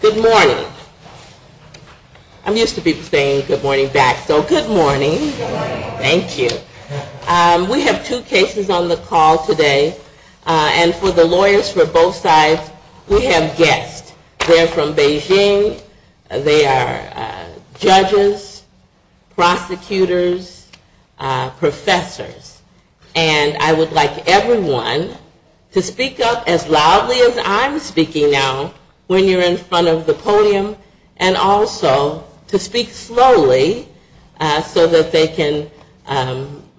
Good morning. I'm used to people saying good morning back, so good morning. Thank you. We have two cases on the call today, and for the lawyers for both sides, we have guests. They're from Beijing. They are judges, prosecutors, professors. And I would like everyone to speak up as loudly as I'm speaking now when you're in front of the podium, and also to speak slowly so that they can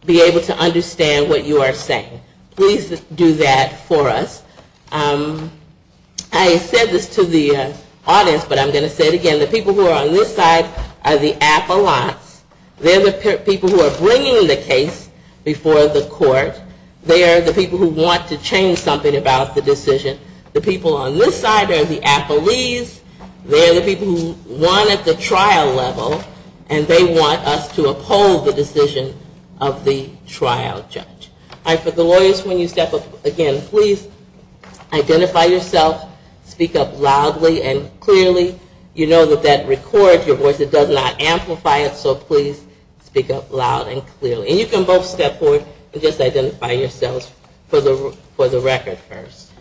be able to understand what you are saying. Please do that for us. I said this to the audience, but I'm going to say it again. The people who are on this side are the appellants. They're the people who are bringing the case before the court. They are the people who want to change something about the decision. The people on this side are the appellees. They are the people who won at the trial level, and they want us to uphold the decision of the trial judge. For the lawyers, when you are in front of the podium, please speak up loud and clearly. And you can both step forward and just identify yourselves for the record first.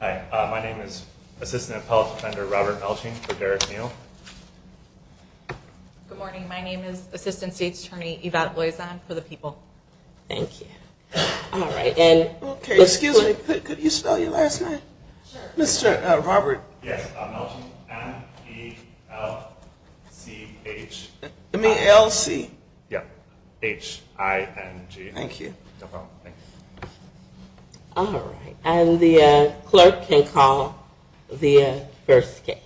Hi, my name is Assistant Appellate Defender Robert Melching for Derek Neal. Good morning. My name is Assistant State's Attorney Yvette Loison for the people. Thank you. Excuse me, could you spell your last name? Mr. Robert Melching. Yes, Melching, M-E-L-C-H. You mean L-C? Yep, H-I-N-G. Thank you. No problem, thanks. Alright, and the clerk can call the first case.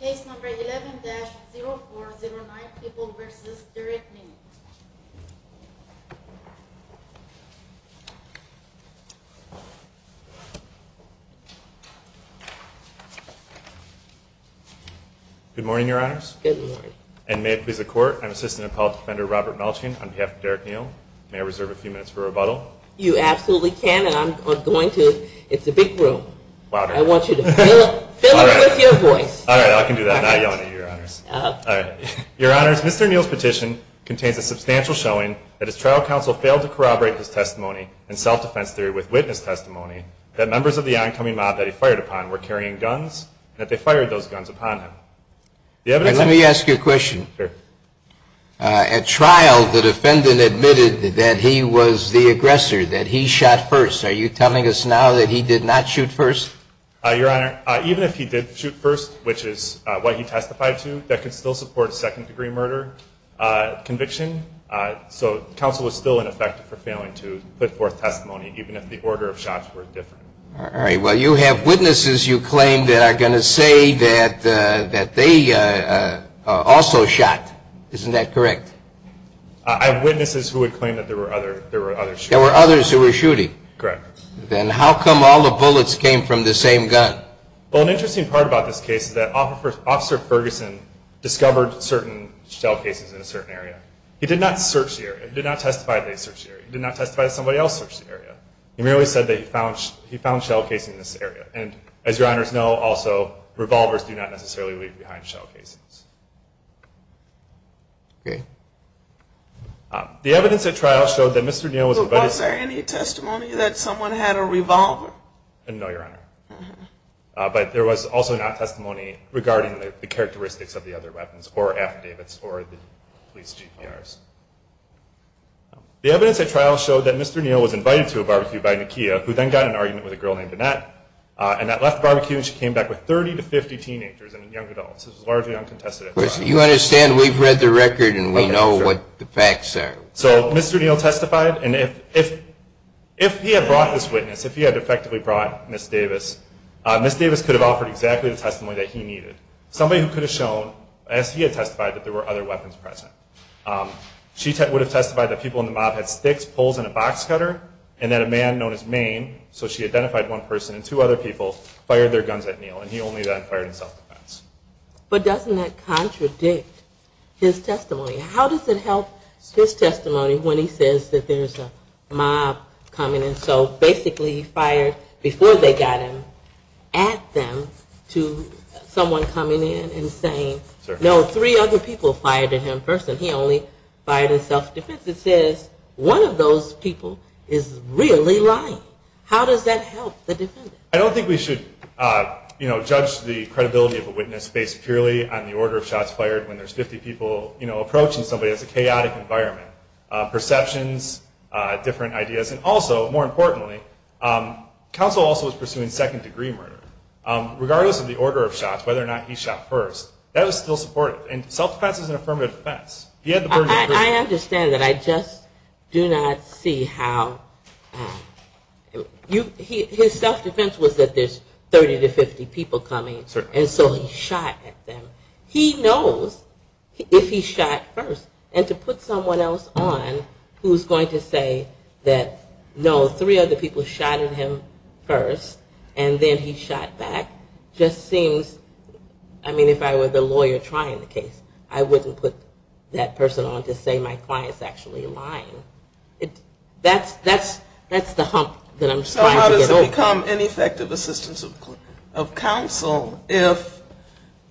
Case number 11-0409, People v. Derek Neal. Good morning, Your Honors. Good morning. And may it please the Court, I'm Assistant Appellate Defender Robert Melching on behalf of Derek Neal. May I reserve a few minutes for rebuttal? You absolutely can, and I'm going to, it's a big room. I want you to fill it with your voice. Alright, I can do that. I'm not yelling at you, Your Honors. Your Honors, Mr. Neal's petition contains a substantial showing that his trial counsel failed to corroborate his testimony in self-defense theory with witness testimony that members of the oncoming mob that he fired upon were carrying guns and that they fired those guns upon him. Let me ask you a question. Sure. At trial, the defendant admitted that he was the aggressor, that he shot first. Are you telling us now that he did not shoot first? Your Honor, even if he did shoot first, which is what he testified to, that could still support second-degree murder conviction. So counsel was still ineffective for failing to put forth testimony, even if the order of shots were different. Alright, well, you have witnesses you claim that are going to say that they also shot. Isn't that correct? I have witnesses who would claim that there were others shooting. There were others who were shooting? Correct. Then how come all the bullets came from the same gun? Well, an interesting part about this case is that Officer Ferguson discovered certain shell cases in a certain area. He did not search the area. He did not testify that he searched the area. He did not testify that somebody else searched the area. He merely said that he found shell cases in this area. And as your Honors know, also, revolvers do not necessarily leave behind shell cases. Okay. The evidence at trial showed that Mr. Neal was a... But was there any testimony that someone had a revolver? No, Your Honor. But there was also not testimony regarding the characteristics of the other weapons or affidavits or the police GPRs. The evidence at trial showed that Mr. Neal was invited to a barbecue by Nakia, who then got in an argument with a girl named Annette, and that left the barbecue and she came back with 30 to 50 teenagers and young adults. It was largely uncontested at trial. You understand we've read the record and we know what the facts are. So Mr. Neal testified, and if he had brought this witness, if he had effectively brought Ms. Davis, Ms. Davis could have offered exactly the testimony that he needed. Somebody who could have shown, as he had testified, that there were other weapons present. She would have testified that people in the mob had sticks, poles, and a box cutter, and that a man known as Maine, so she identified one person and two other people, fired their guns at Neal, and he only then fired in self-defense. But doesn't that contradict his testimony? How does it help his testimony when he says that there's a mob coming in, so basically he fired, before they got him, at them to someone coming in and saying, no, three other people fired at him first, and he only fired in self-defense. It says one of those people is really lying. How does that help the defendant? I don't think we should judge the credibility of a witness based purely on the order of shots fired when there's 50 people approaching somebody. It's a chaotic environment. Perceptions, different ideas, and also, more importantly, counsel also was pursuing second degree murder. Regardless of the order of shots, whether or not he shot first, that was still supportive, and self-defense is an affirmative defense. I understand that. I just do not see how, his self-defense was that there's 30 to 50 people coming, and so he shot at them. He knows if he shot first, and to put someone else on, who's going to say that, no, three other people shot at him first, and then he shot back, just seems, I mean, if I were the lawyer trying the case, I wouldn't put that. person on to say my client's actually lying. That's the hump that I'm trying to get over. So how does it become ineffective assistance of counsel if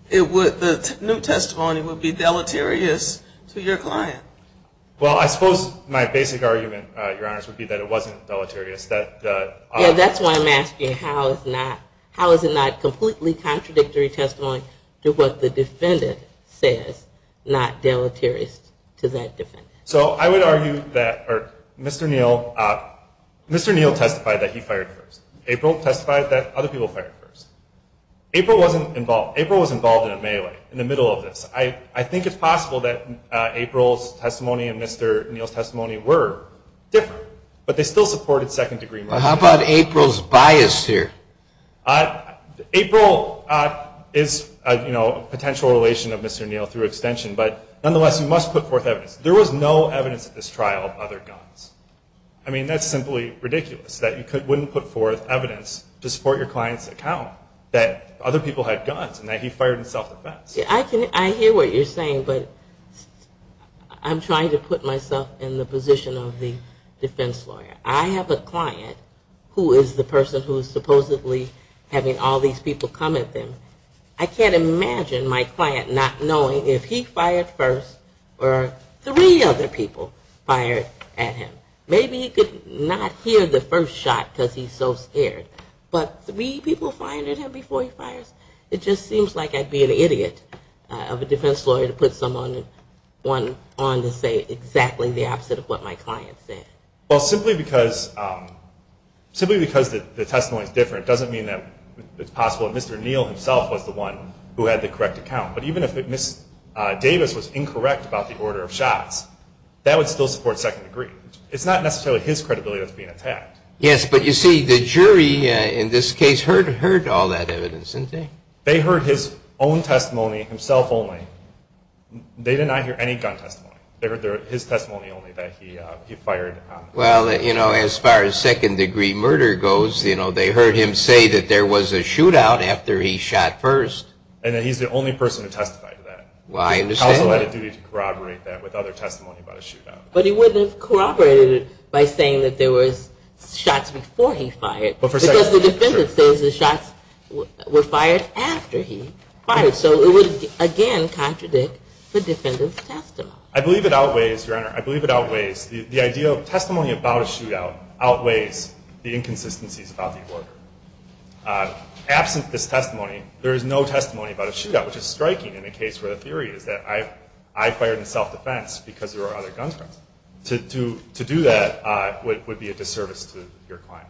the new testimony would be deleterious to your client? Well, I suppose my basic argument, Your Honors, would be that it wasn't deleterious. Yeah, that's why I'm asking how is it not completely contradictory testimony to what the defendant says, not deleterious. So I would argue that Mr. Neal testified that he fired first. April testified that other people fired first. April wasn't involved. April was involved in a melee, in the middle of this. I think it's possible that April's testimony and Mr. Neal's testimony were different, but they still supported second degree murder. How about April's bias here? April is a potential relation of Mr. Neal through extension, but nonetheless, you must put forth evidence. There was no evidence at this trial of other guns. I mean, that's simply ridiculous that you wouldn't put forth evidence to support your client's account that other people had guns and that he fired in self-defense. Yeah, I hear what you're saying, but I'm trying to put myself in the position of the defense lawyer. I have a client who is the person who is supposedly in the position of the defense lawyer. Having all these people come at him, I can't imagine my client not knowing if he fired first or three other people fired at him. Maybe he could not hear the first shot because he's so scared, but three people fired at him before he fires? It just seems like I'd be an idiot of a defense lawyer to put someone on to say exactly the opposite of what my client said. Well, simply because the testimony is different doesn't mean that it's possible that Mr. Neal himself was the one who had the correct account, but even if Ms. Davis was incorrect about the order of shots, that would still support second degree. It's not necessarily his credibility that's being attacked. Yes, but you see, the jury in this case heard all that evidence, didn't they? They heard his own testimony himself only. They did not hear any gun testimony. They heard his testimony only that he fired. Well, as far as second degree murder goes, they heard him say that there was a shootout after he shot first. And that he's the only person who testified to that. Well, I understand that. He also had a duty to corroborate that with other testimony about a shootout. But he wouldn't have corroborated it by saying that there was shots before he fired. Because the defendant says the shots were fired after he fired. So it would, again, contradict the defendant's testimony. I believe it outweighs, Your Honor, I believe it outweighs the idea of testimony about a shootout outweighs the inconsistencies about the order. Absent this testimony, there is no testimony about a shootout. Which is striking in a case where the theory is that I fired in self-defense because there were other guns present. To do that would be a disservice to your client.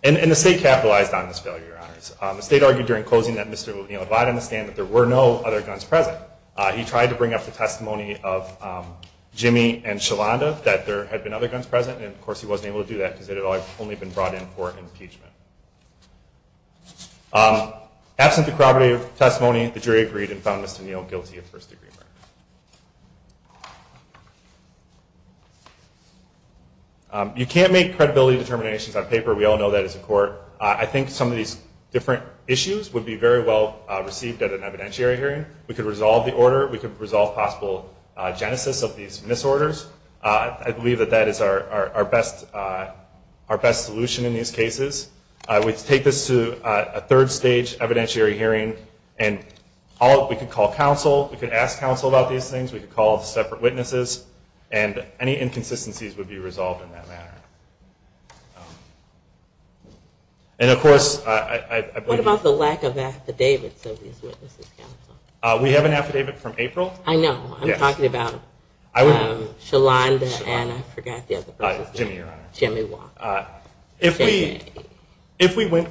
And the State capitalized on this failure, Your Honors. The State argued during closing that Mr. Levine-Levotte understand that there were no other guns present. He tried to bring up the testimony of Jimmy and Shalanda that there had been other guns present. And, of course, he wasn't able to do that because it had only been brought in for impeachment. Absent the corroborative testimony, the jury agreed and found Mr. Neal guilty of first degree murder. You can't make credibility determinations on paper. We all know that as a court. I think some of these different issues would be very well received at an evidentiary hearing. We could resolve the order. We could resolve possible genesis of these misorders. I believe that that is our best solution in these cases. I would take this to a third stage evidentiary hearing. We could call counsel. We could ask counsel about these things. We could call separate witnesses. And any inconsistencies would be resolved in that manner. We have an affidavit from April. I know. I'm talking about Shalanda and I forgot the other person's name. Jimmy, Your Honor. Jimmy Wong.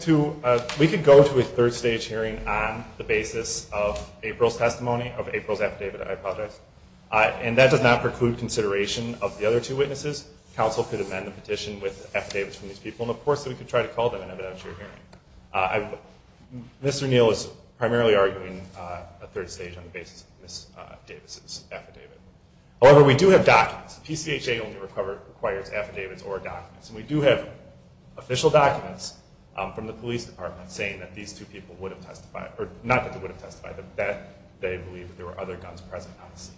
We could go to a third stage hearing on the basis of April's testimony, of April's affidavit. I apologize. And that does not preclude consideration of the other two witnesses. Counsel could amend the petition with affidavits from these people. And, of course, we could try to call them in an evidentiary hearing. Mr. Neal is primarily arguing a third stage on the basis of Ms. Davis' affidavit. However, we do have documents. PCHA only requires affidavits or documents. And we do have official documents from the police department saying that these two people would have testified, or not that they would have testified, but that they believe that there were other guns present on the scene.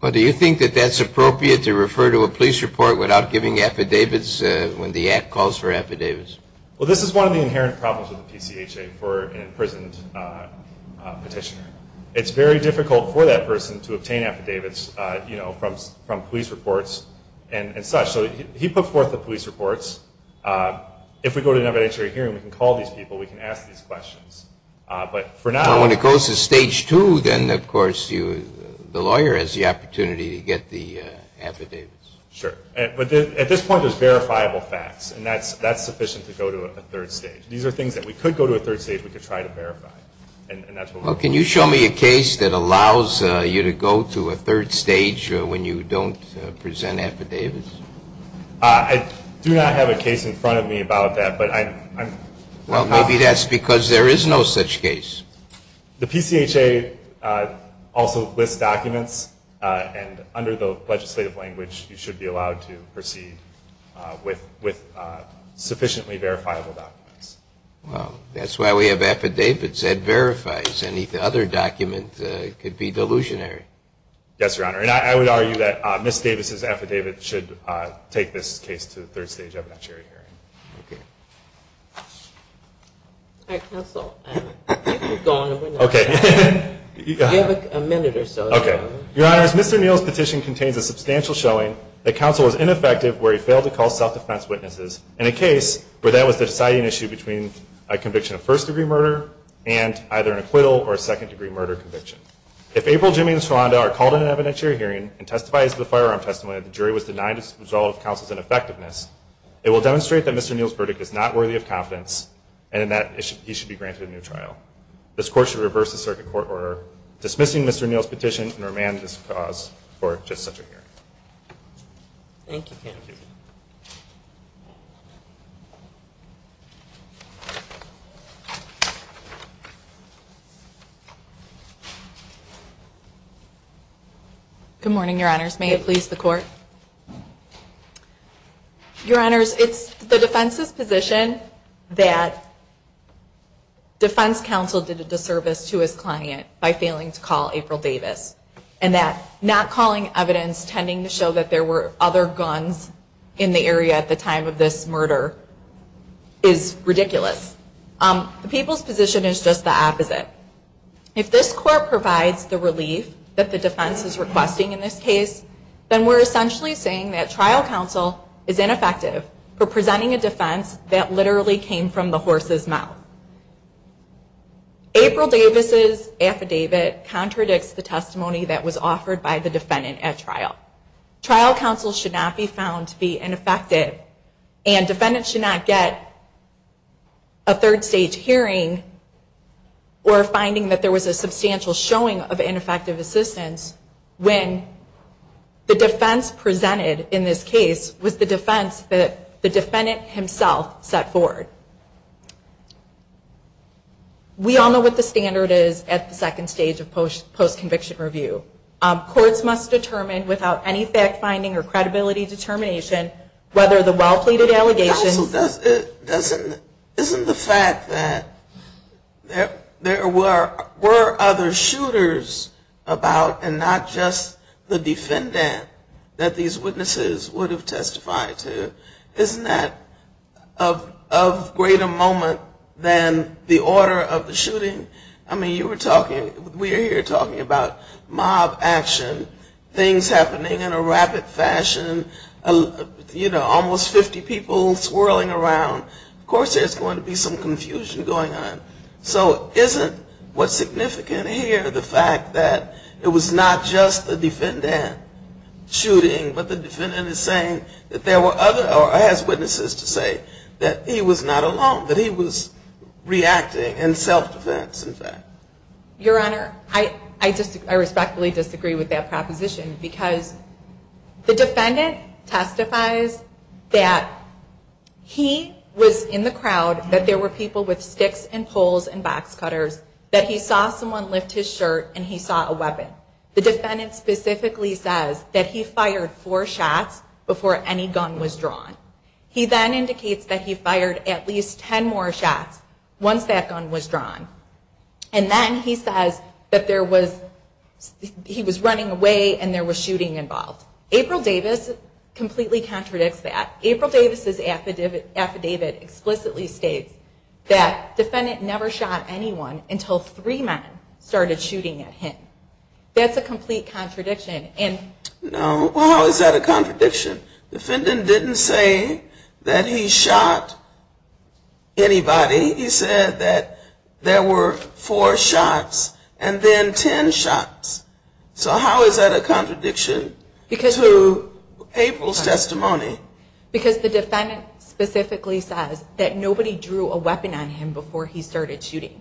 Well, do you think that that's appropriate to refer to a police report without giving affidavits when the Act calls for affidavits? Well, this is one of the inherent problems with the PCHA for an imprisoned petitioner. It's very difficult for that person to obtain affidavits, you know, from police reports and such. So he put forth the police reports. If we go to an evidentiary hearing, we can call these people, we can ask these questions. But for now... Well, when it goes to stage two, then, of course, the lawyer has the opportunity to get the affidavits. Sure. But at this point, there's verifiable facts, and that's sufficient to go to a third stage. These are things that we could go to a third stage, we could try to verify. Well, can you show me a case that allows you to go to a third stage when you don't present affidavits? I do not have a case in front of me about that, but I'm... Well, maybe that's because there is no such case. The PCHA also lists documents, and under the legislative language, you should be allowed to proceed with sufficiently verifiable documents. Well, that's why we have affidavits that verifies. Any other document could be delusionary. Yes, Your Honor. And I would argue that Ms. Davis's affidavit should take this case to the third stage evidentiary hearing. Okay. All right, counsel, go on. Okay. You have a minute or so. Okay. Your Honor, Mr. Neal's petition contains a substantial showing that counsel was ineffective where he failed to call self-defense witnesses in a case where that was the deciding issue between a conviction of first-degree murder and either an acquittal or a second-degree murder conviction. If April, Jimmy, and Sharonda are called in an evidentiary hearing and testify as to the firearm testimony that the jury was denied to resolve counsel's ineffectiveness, it will demonstrate that Mr. Neal's verdict is not worthy of confidence and that he should be granted a new trial. This Court should reverse the circuit court order dismissing Mr. Neal's petition and remand this cause for just such a hearing. Thank you, counsel. Good morning, Your Honors. May it please the Court. Your Honors, it's the defense's position that defense counsel did a disservice to his client by failing to call April Davis. And that not calling evidence tending to show that there were other guns in the area at the time of this murder is ridiculous. The people's position is just the opposite. If this Court provides the relief that the defense is requesting in this case, then we're essentially saying that trial counsel is ineffective for presenting a defense that literally came from the horse's mouth. April Davis' affidavit contradicts the testimony that was offered by the defendant at trial. Trial counsel should not be found to be ineffective and defendants should not get a third-stage hearing or finding that there was a substantial showing of ineffective assistance when the defense presented in this case was the defense that the defendant himself set forward. We all know what the standard is at the second stage of post-conviction review. Courts must determine without any fact-finding or credibility determination whether the well-pleaded allegations... Isn't the fact that there were other shooters about and not just the defendant that these witnesses would have testified to, isn't that of greater moment than the order of the shooting? I mean, you were talking, we're here talking about mob action, things happening in a rapid fashion, you know, almost 50 people swirling around. Of course there's going to be some confusion going on. So isn't what's significant here the fact that it was not just the defendant shooting, but the defendant is saying that there were other, or has witnesses to say, that he was not alone, that he was reacting in self-defense, in fact? Your Honor, I respectfully disagree with that proposition because the defendant testifies that he was in the crowd, that there were people with sticks and poles and box cutters, that he saw someone lift his shirt and he saw a weapon. The defendant specifically says that he fired four shots before any gun was drawn. He then indicates that he fired at least ten more shots once that gun was drawn. And then he says that there was, he was running away and there was shooting involved. April Davis completely contradicts that. April Davis' affidavit explicitly states that the defendant never shot anyone until three men started shooting at him. That's a complete contradiction. No, how is that a contradiction? The defendant didn't say that he shot anybody. He said that there were four shots and then ten shots. So how is that a contradiction to April's testimony? Because the defendant specifically says that nobody drew a weapon on him before he started shooting.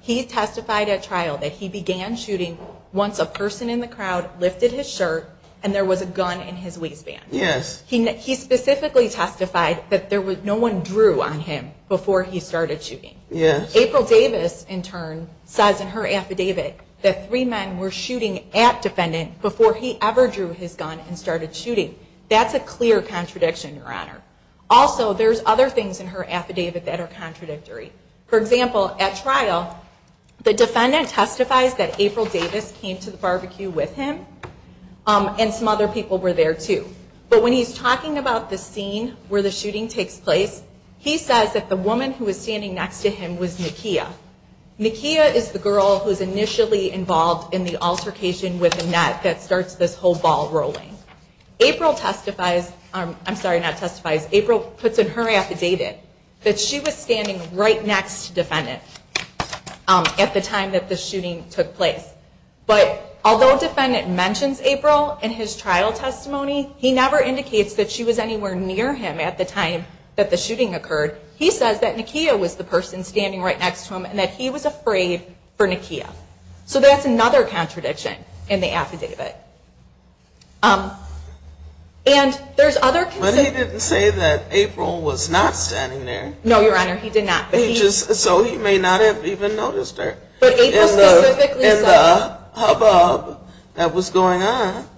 He testified at trial that he began shooting once a person in the crowd lifted his shirt and there was a gun in his waistband. He specifically testified that no one drew on him before he started shooting. April Davis, in turn, says in her affidavit that three men were shooting at defendant before he ever drew his gun and started shooting. That's a clear contradiction, Your Honor. Also, there's other things in her affidavit that are contradictory. For example, at trial, the defendant testifies that April Davis came to the scene where the shooting takes place. He says that the woman who was standing next to him was Nakia. Nakia is the girl who's initially involved in the altercation with Annette that starts this whole ball rolling. April testifies, I'm sorry, not testifies, April puts in her affidavit that she was standing right next to the defendant at the time that the shooting took place. But although the defendant mentions April in his trial testimony, he never interrupted her. He never indicates that she was anywhere near him at the time that the shooting occurred. He says that Nakia was the person standing right next to him and that he was afraid for Nakia. So that's another contradiction in the affidavit. But he didn't say that April was not standing there. No, Your Honor, he did not. So he may not have even noticed her in the hubbub that was going on.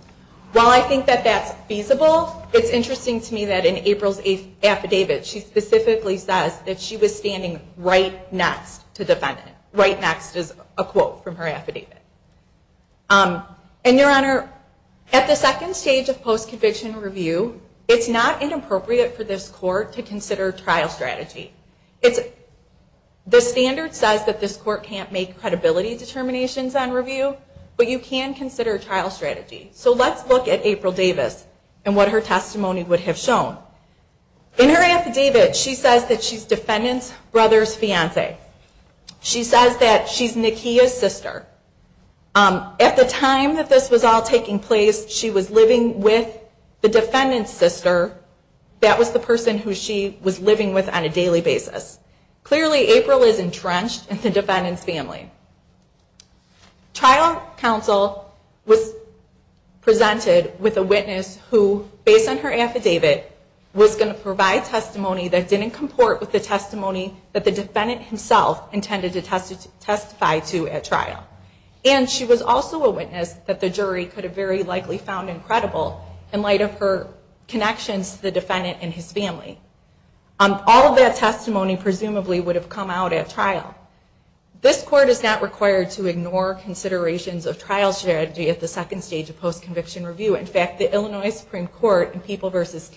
While I think that that's feasible, it's interesting to me that in April's affidavit, she specifically says that she was standing right next to the defendant. Right next is a quote from her affidavit. And, Your Honor, at the second stage of post-conviction review, it's not inappropriate for this court to consider trial strategy. The standard says that this court can't make credibility determinations on review, but you can consider trial strategy. So let's look at April Davis and what her testimony would have shown. In her affidavit, she says that she's defendant's brother's fiance. She says that she's defendant's sister. At the time that this was all taking place, she was living with the defendant's sister. That was the person who she was living with on a daily basis. Clearly, April is entrenched in the defendant's family. Trial counsel was presented with a witness who, based on her affidavit, was going to provide testimony that didn't comport with the testimony that the defendant himself intended to testify to at trial. And she was also a witness that the jury could have very likely found incredible in light of her connections to the defendant and his family. All of that testimony presumably would have come out at trial. This court is not required to ignore considerations of trial strategy at the second stage of post-conviction review. In fact, the Illinois Court of Appeals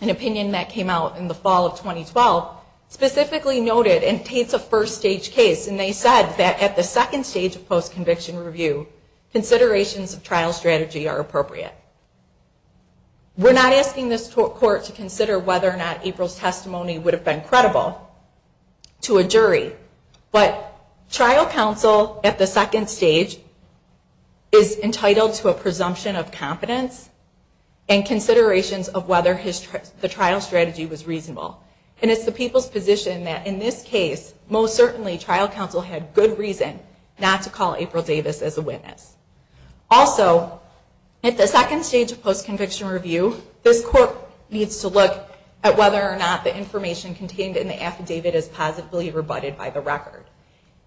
in 2012 specifically noted and takes a first stage case and they said that at the second stage of post-conviction review, considerations of trial strategy are appropriate. We're not asking this court to consider whether or not April's testimony would have been credible to a jury, but trial counsel at the second stage is entitled to a presumption of confidence and considerations of whether the trial strategy was reasonable. And it's the people's position that in this case, most certainly, trial counsel had good reason not to call April Davis as a witness. Also, at the second stage of post-conviction review, this court needs to look at whether or not the information contained in the affidavit is positively rebutted by the record.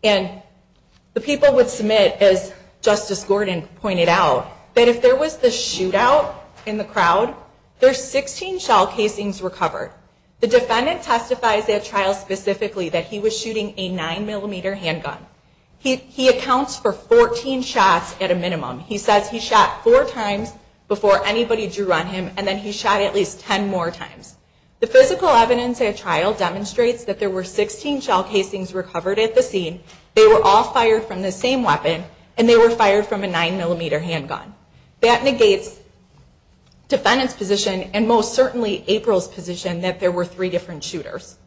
And the people would submit, as Justice Gordon pointed out, that if there was the shootout in the crowd, there's 16 shell casings recovered. The defendant testifies at trial specifically that he was shooting a 9 millimeter handgun. He accounts for 14 shots at a minimum. He says he shot four times before anybody drew on him and then he shot at least 10 more times. The physical evidence at trial demonstrates that there were 16 shell casings recovered at the scene. They were all fired from the same handgun. That negates the defendant's position and most certainly April's position that there were three different shooters.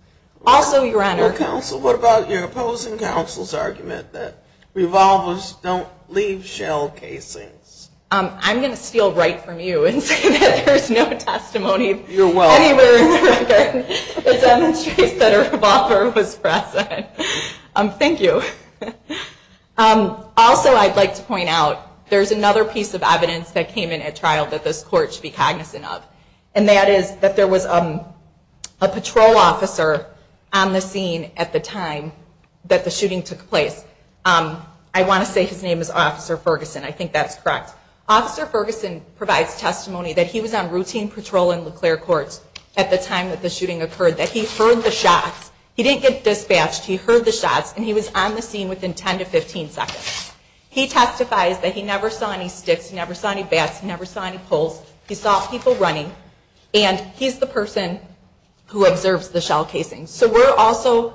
Also, your honor... Your counsel, what about your opposing counsel's argument that revolvers don't leave shell casings? I'm going to steal right from you and say that there's no testimony anywhere in the record that demonstrates that a revolver was present. Thank you. Also, I'd like to point out, there's another piece of evidence that came in at trial that this Court should be cognizant of. And that is that there was a patrol officer on the scene at the time that the shooting took place. I want to say his name is Officer Ferguson. I think that's correct. Officer Ferguson provides testimony that he was on routine patrol in LeClaire Courts at the time that the shooting occurred, that he heard the shots. He did get dispatched, he heard the shots, and he was on the scene within 10 to 15 seconds. He testifies that he never saw any sticks, he never saw any bats, he never saw any poles. He saw people running. And he's the person who observes the shell casings. So we're also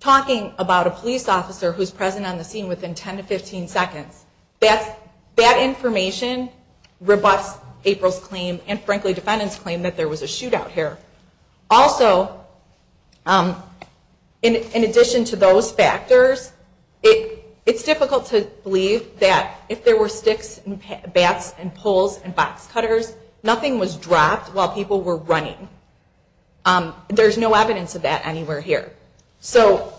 talking about a police officer who's present on the scene within 10 to 15 seconds. That information rebuffs April's claim and frankly defendant's claim that there was a shootout here. Also, in addition to those factors, it's difficult to believe that if there were sticks and bats and poles and box cutters, nothing was dropped while people were running. There's no evidence of that anywhere here. So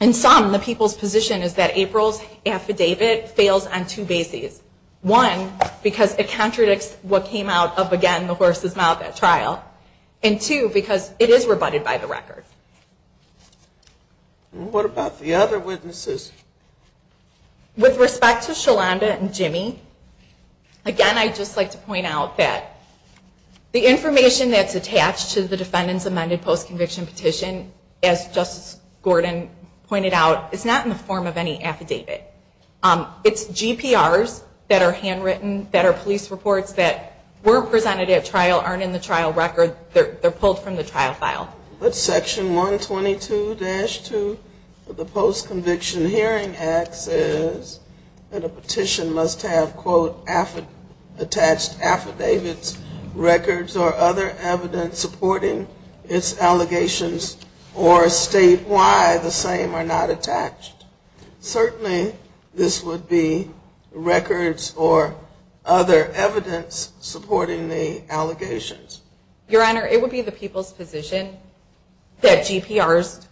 in sum, the people's position is that April's affidavit fails on two bases. One, because it contradicts what came out of, again, the horse's mouth at trial. It contradicts what came out of the horse's mouth at trial. And two, because it is rebutted by the record. What about the other witnesses? With respect to Sholanda and Jimmy, again, I'd just like to point out that the information that's attached to the defendant's amended post-conviction petition, as Justice Gordon pointed out, is not in the form of any affidavit. It's GPRs that are handwritten, that are police reports, that were presented at trial, aren't in the trial record. They're pulled from the trial file. But Section 122-2 of the Post-Conviction Hearing Act says that a petition must have, quote, attached affidavits, records or other evidence supporting its allegations or state why the same are not attached. Certainly this would be records or other evidence supporting its allegations. Your Honor, it would be the people's position that GPRs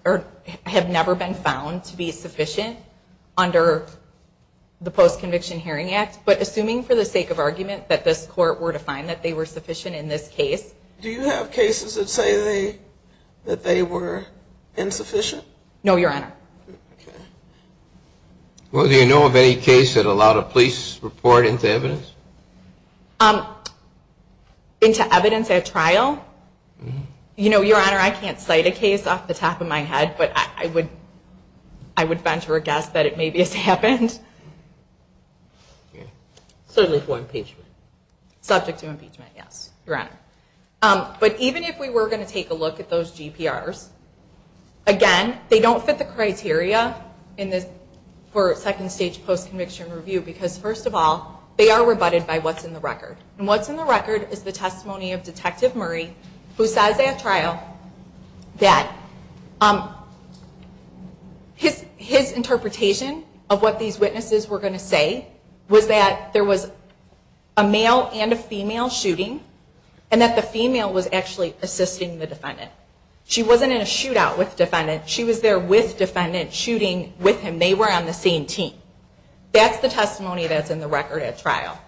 have never been found to be sufficient under the Post-Conviction Hearing Act. But assuming, for the sake of argument, that this Court were to find that they were sufficient in this case. Do you have cases that say that they were insufficient? No, Your Honor. Okay. Well, do you know of any case that allowed a police report into evidence? Into evidence at trial? You know, Your Honor, I can't cite a case off the top of my head, but I would venture a guess that it maybe has happened. Certainly for impeachment. Subject to impeachment, yes, Your Honor. But even if we were going to take a look at those criteria for second stage post-conviction review, because first of all, they are rebutted by what's in the record. And what's in the record is the testimony of Detective Murray, who says at trial that his interpretation of what these witnesses were going to say was that there was a male and a female shooting and that the female was actually assisting the defendant. She wasn't in a shootout with defendant, she was there with defendant shooting with him. They were on the same team. That's the testimony that's in the record at trial.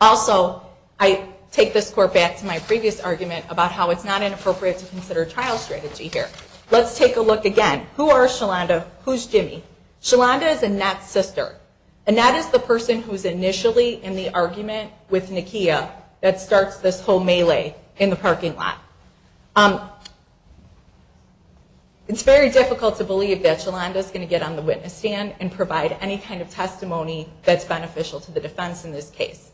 Also, I take this Court back to my previous argument about how it's not inappropriate to consider trial strategy here. Let's take a look again. Who are Shalanda? Who's Jimmy? Shalanda is Anat's sister. Anat is the person who's initially in the argument with Nakia that starts this whole melee in the trial. It's very difficult to believe that Shalanda is going to get on the witness stand and provide any kind of testimony that's beneficial to the defense in this case.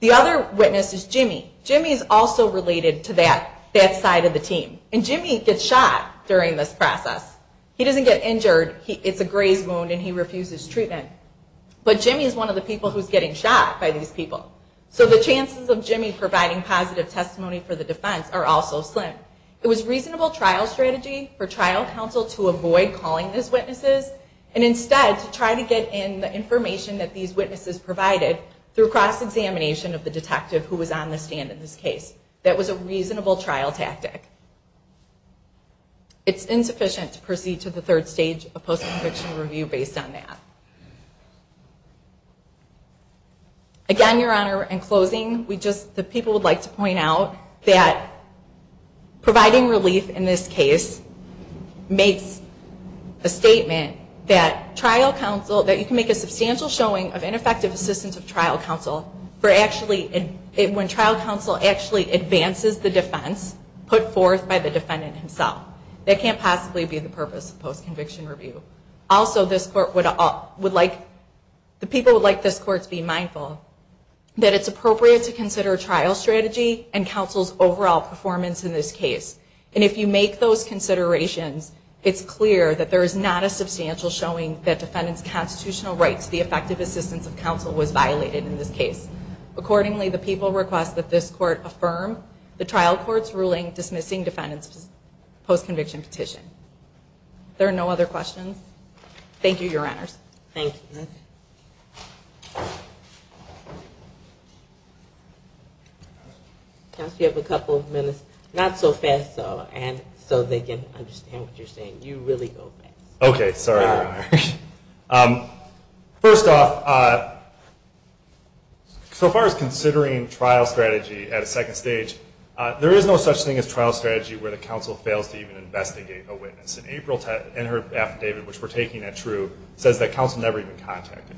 The other witness is Jimmy. Jimmy is also related to that side of the team. And Jimmy gets shot during this process. He doesn't get injured. It's a graze wound and he refuses treatment. But Jimmy is one of the people who's getting shot by these people. So the chances of Jimmy providing positive testimony for the defense are also slim. It was reasonable trial strategy for trial counsel to avoid calling these witnesses and instead to try to get in the information that these witnesses provided through cross-examination of the detective who was on the stand in this case. That was a reasonable trial tactic. It's insufficient to proceed to the third stage of post-conviction review based on that. Again, Your Honor, in providing relief in this case makes a statement that trial counsel, that you can make a substantial showing of ineffective assistance of trial counsel when trial counsel actually advances the defense put forth by the defendant himself. That can't possibly be the purpose of post-conviction review. Also, the people would like this court to be mindful that it's appropriate to make those considerations. And if you make those considerations, it's clear that there is not a substantial showing that defendant's constitutional rights to the effective assistance of counsel was violated in this case. Accordingly, the people request that this court affirm the trial court's ruling dismissing defendant's post-conviction petition. There are no other questions. Thank you, Your Honors. Thank you. Counsel, you have a couple of minutes. Not so fast, though, so they can understand what you're saying. You really go fast. Okay. Sorry, Your Honor. First off, so far as considering trial strategy at a second stage, there is no such thing as trial strategy where the counsel fails to even investigate a witness. In April, in her affidavit, which we're taking at TRU, says that counsel never even contacted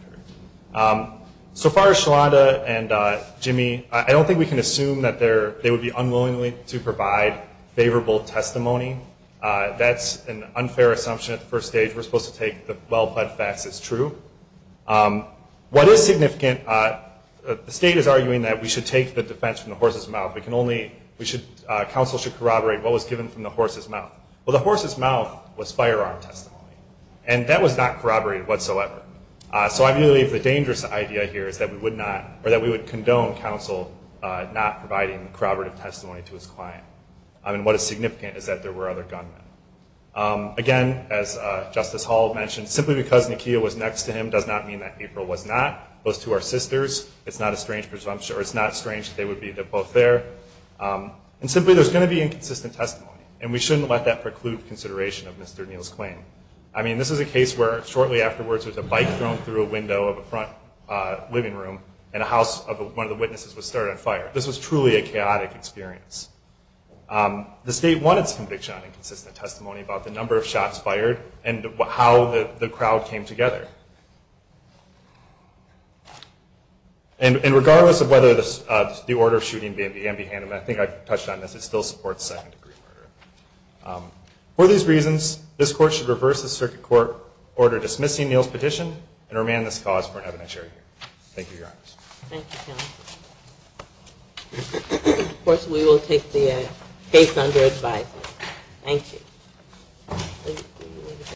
her. So far as Shalanda and Jimmy, I don't think we can assume that they would be unwillingly to provide favorable testimony. That's an unfair assumption at the first stage. We're supposed to take the well-pled facts as true. What is significant, the state is arguing that we should take the defense from the horse's mouth. Counsel should corroborate what was given from the horse's mouth. Well, the horse's mouth was firearm testimony. And that was not corroborated whatsoever. So I believe the dangerous idea here is that we would not, or that we would condone counsel not providing corroborative testimony to his client. I mean, what is significant is that there were other gunmen. Again, as Justice Hall mentioned, simply because Nakia was next to him does not mean that April was not. Those two are sisters. It's not a strange presumption, or it's not strange that they would be both there. And simply, there's going to be inconsistent testimony, and we don't want that. This is a case where shortly afterwards, there was a bike thrown through a window of a front living room, and a house of one of the witnesses was started on fire. This was truly a chaotic experience. The state won its conviction on inconsistent testimony about the number of shots fired and how the crowd came together. And regardless of whether the order of shooting began to be handled, I think I touched on this, it still supports second-degree murder. For these reasons, this circuit court ordered dismissing Neal's petition and remand this cause for an evidentiary hearing. Thank you, Your Honor. Thank you, counsel. Of course, we will take the case under advisement. Thank you.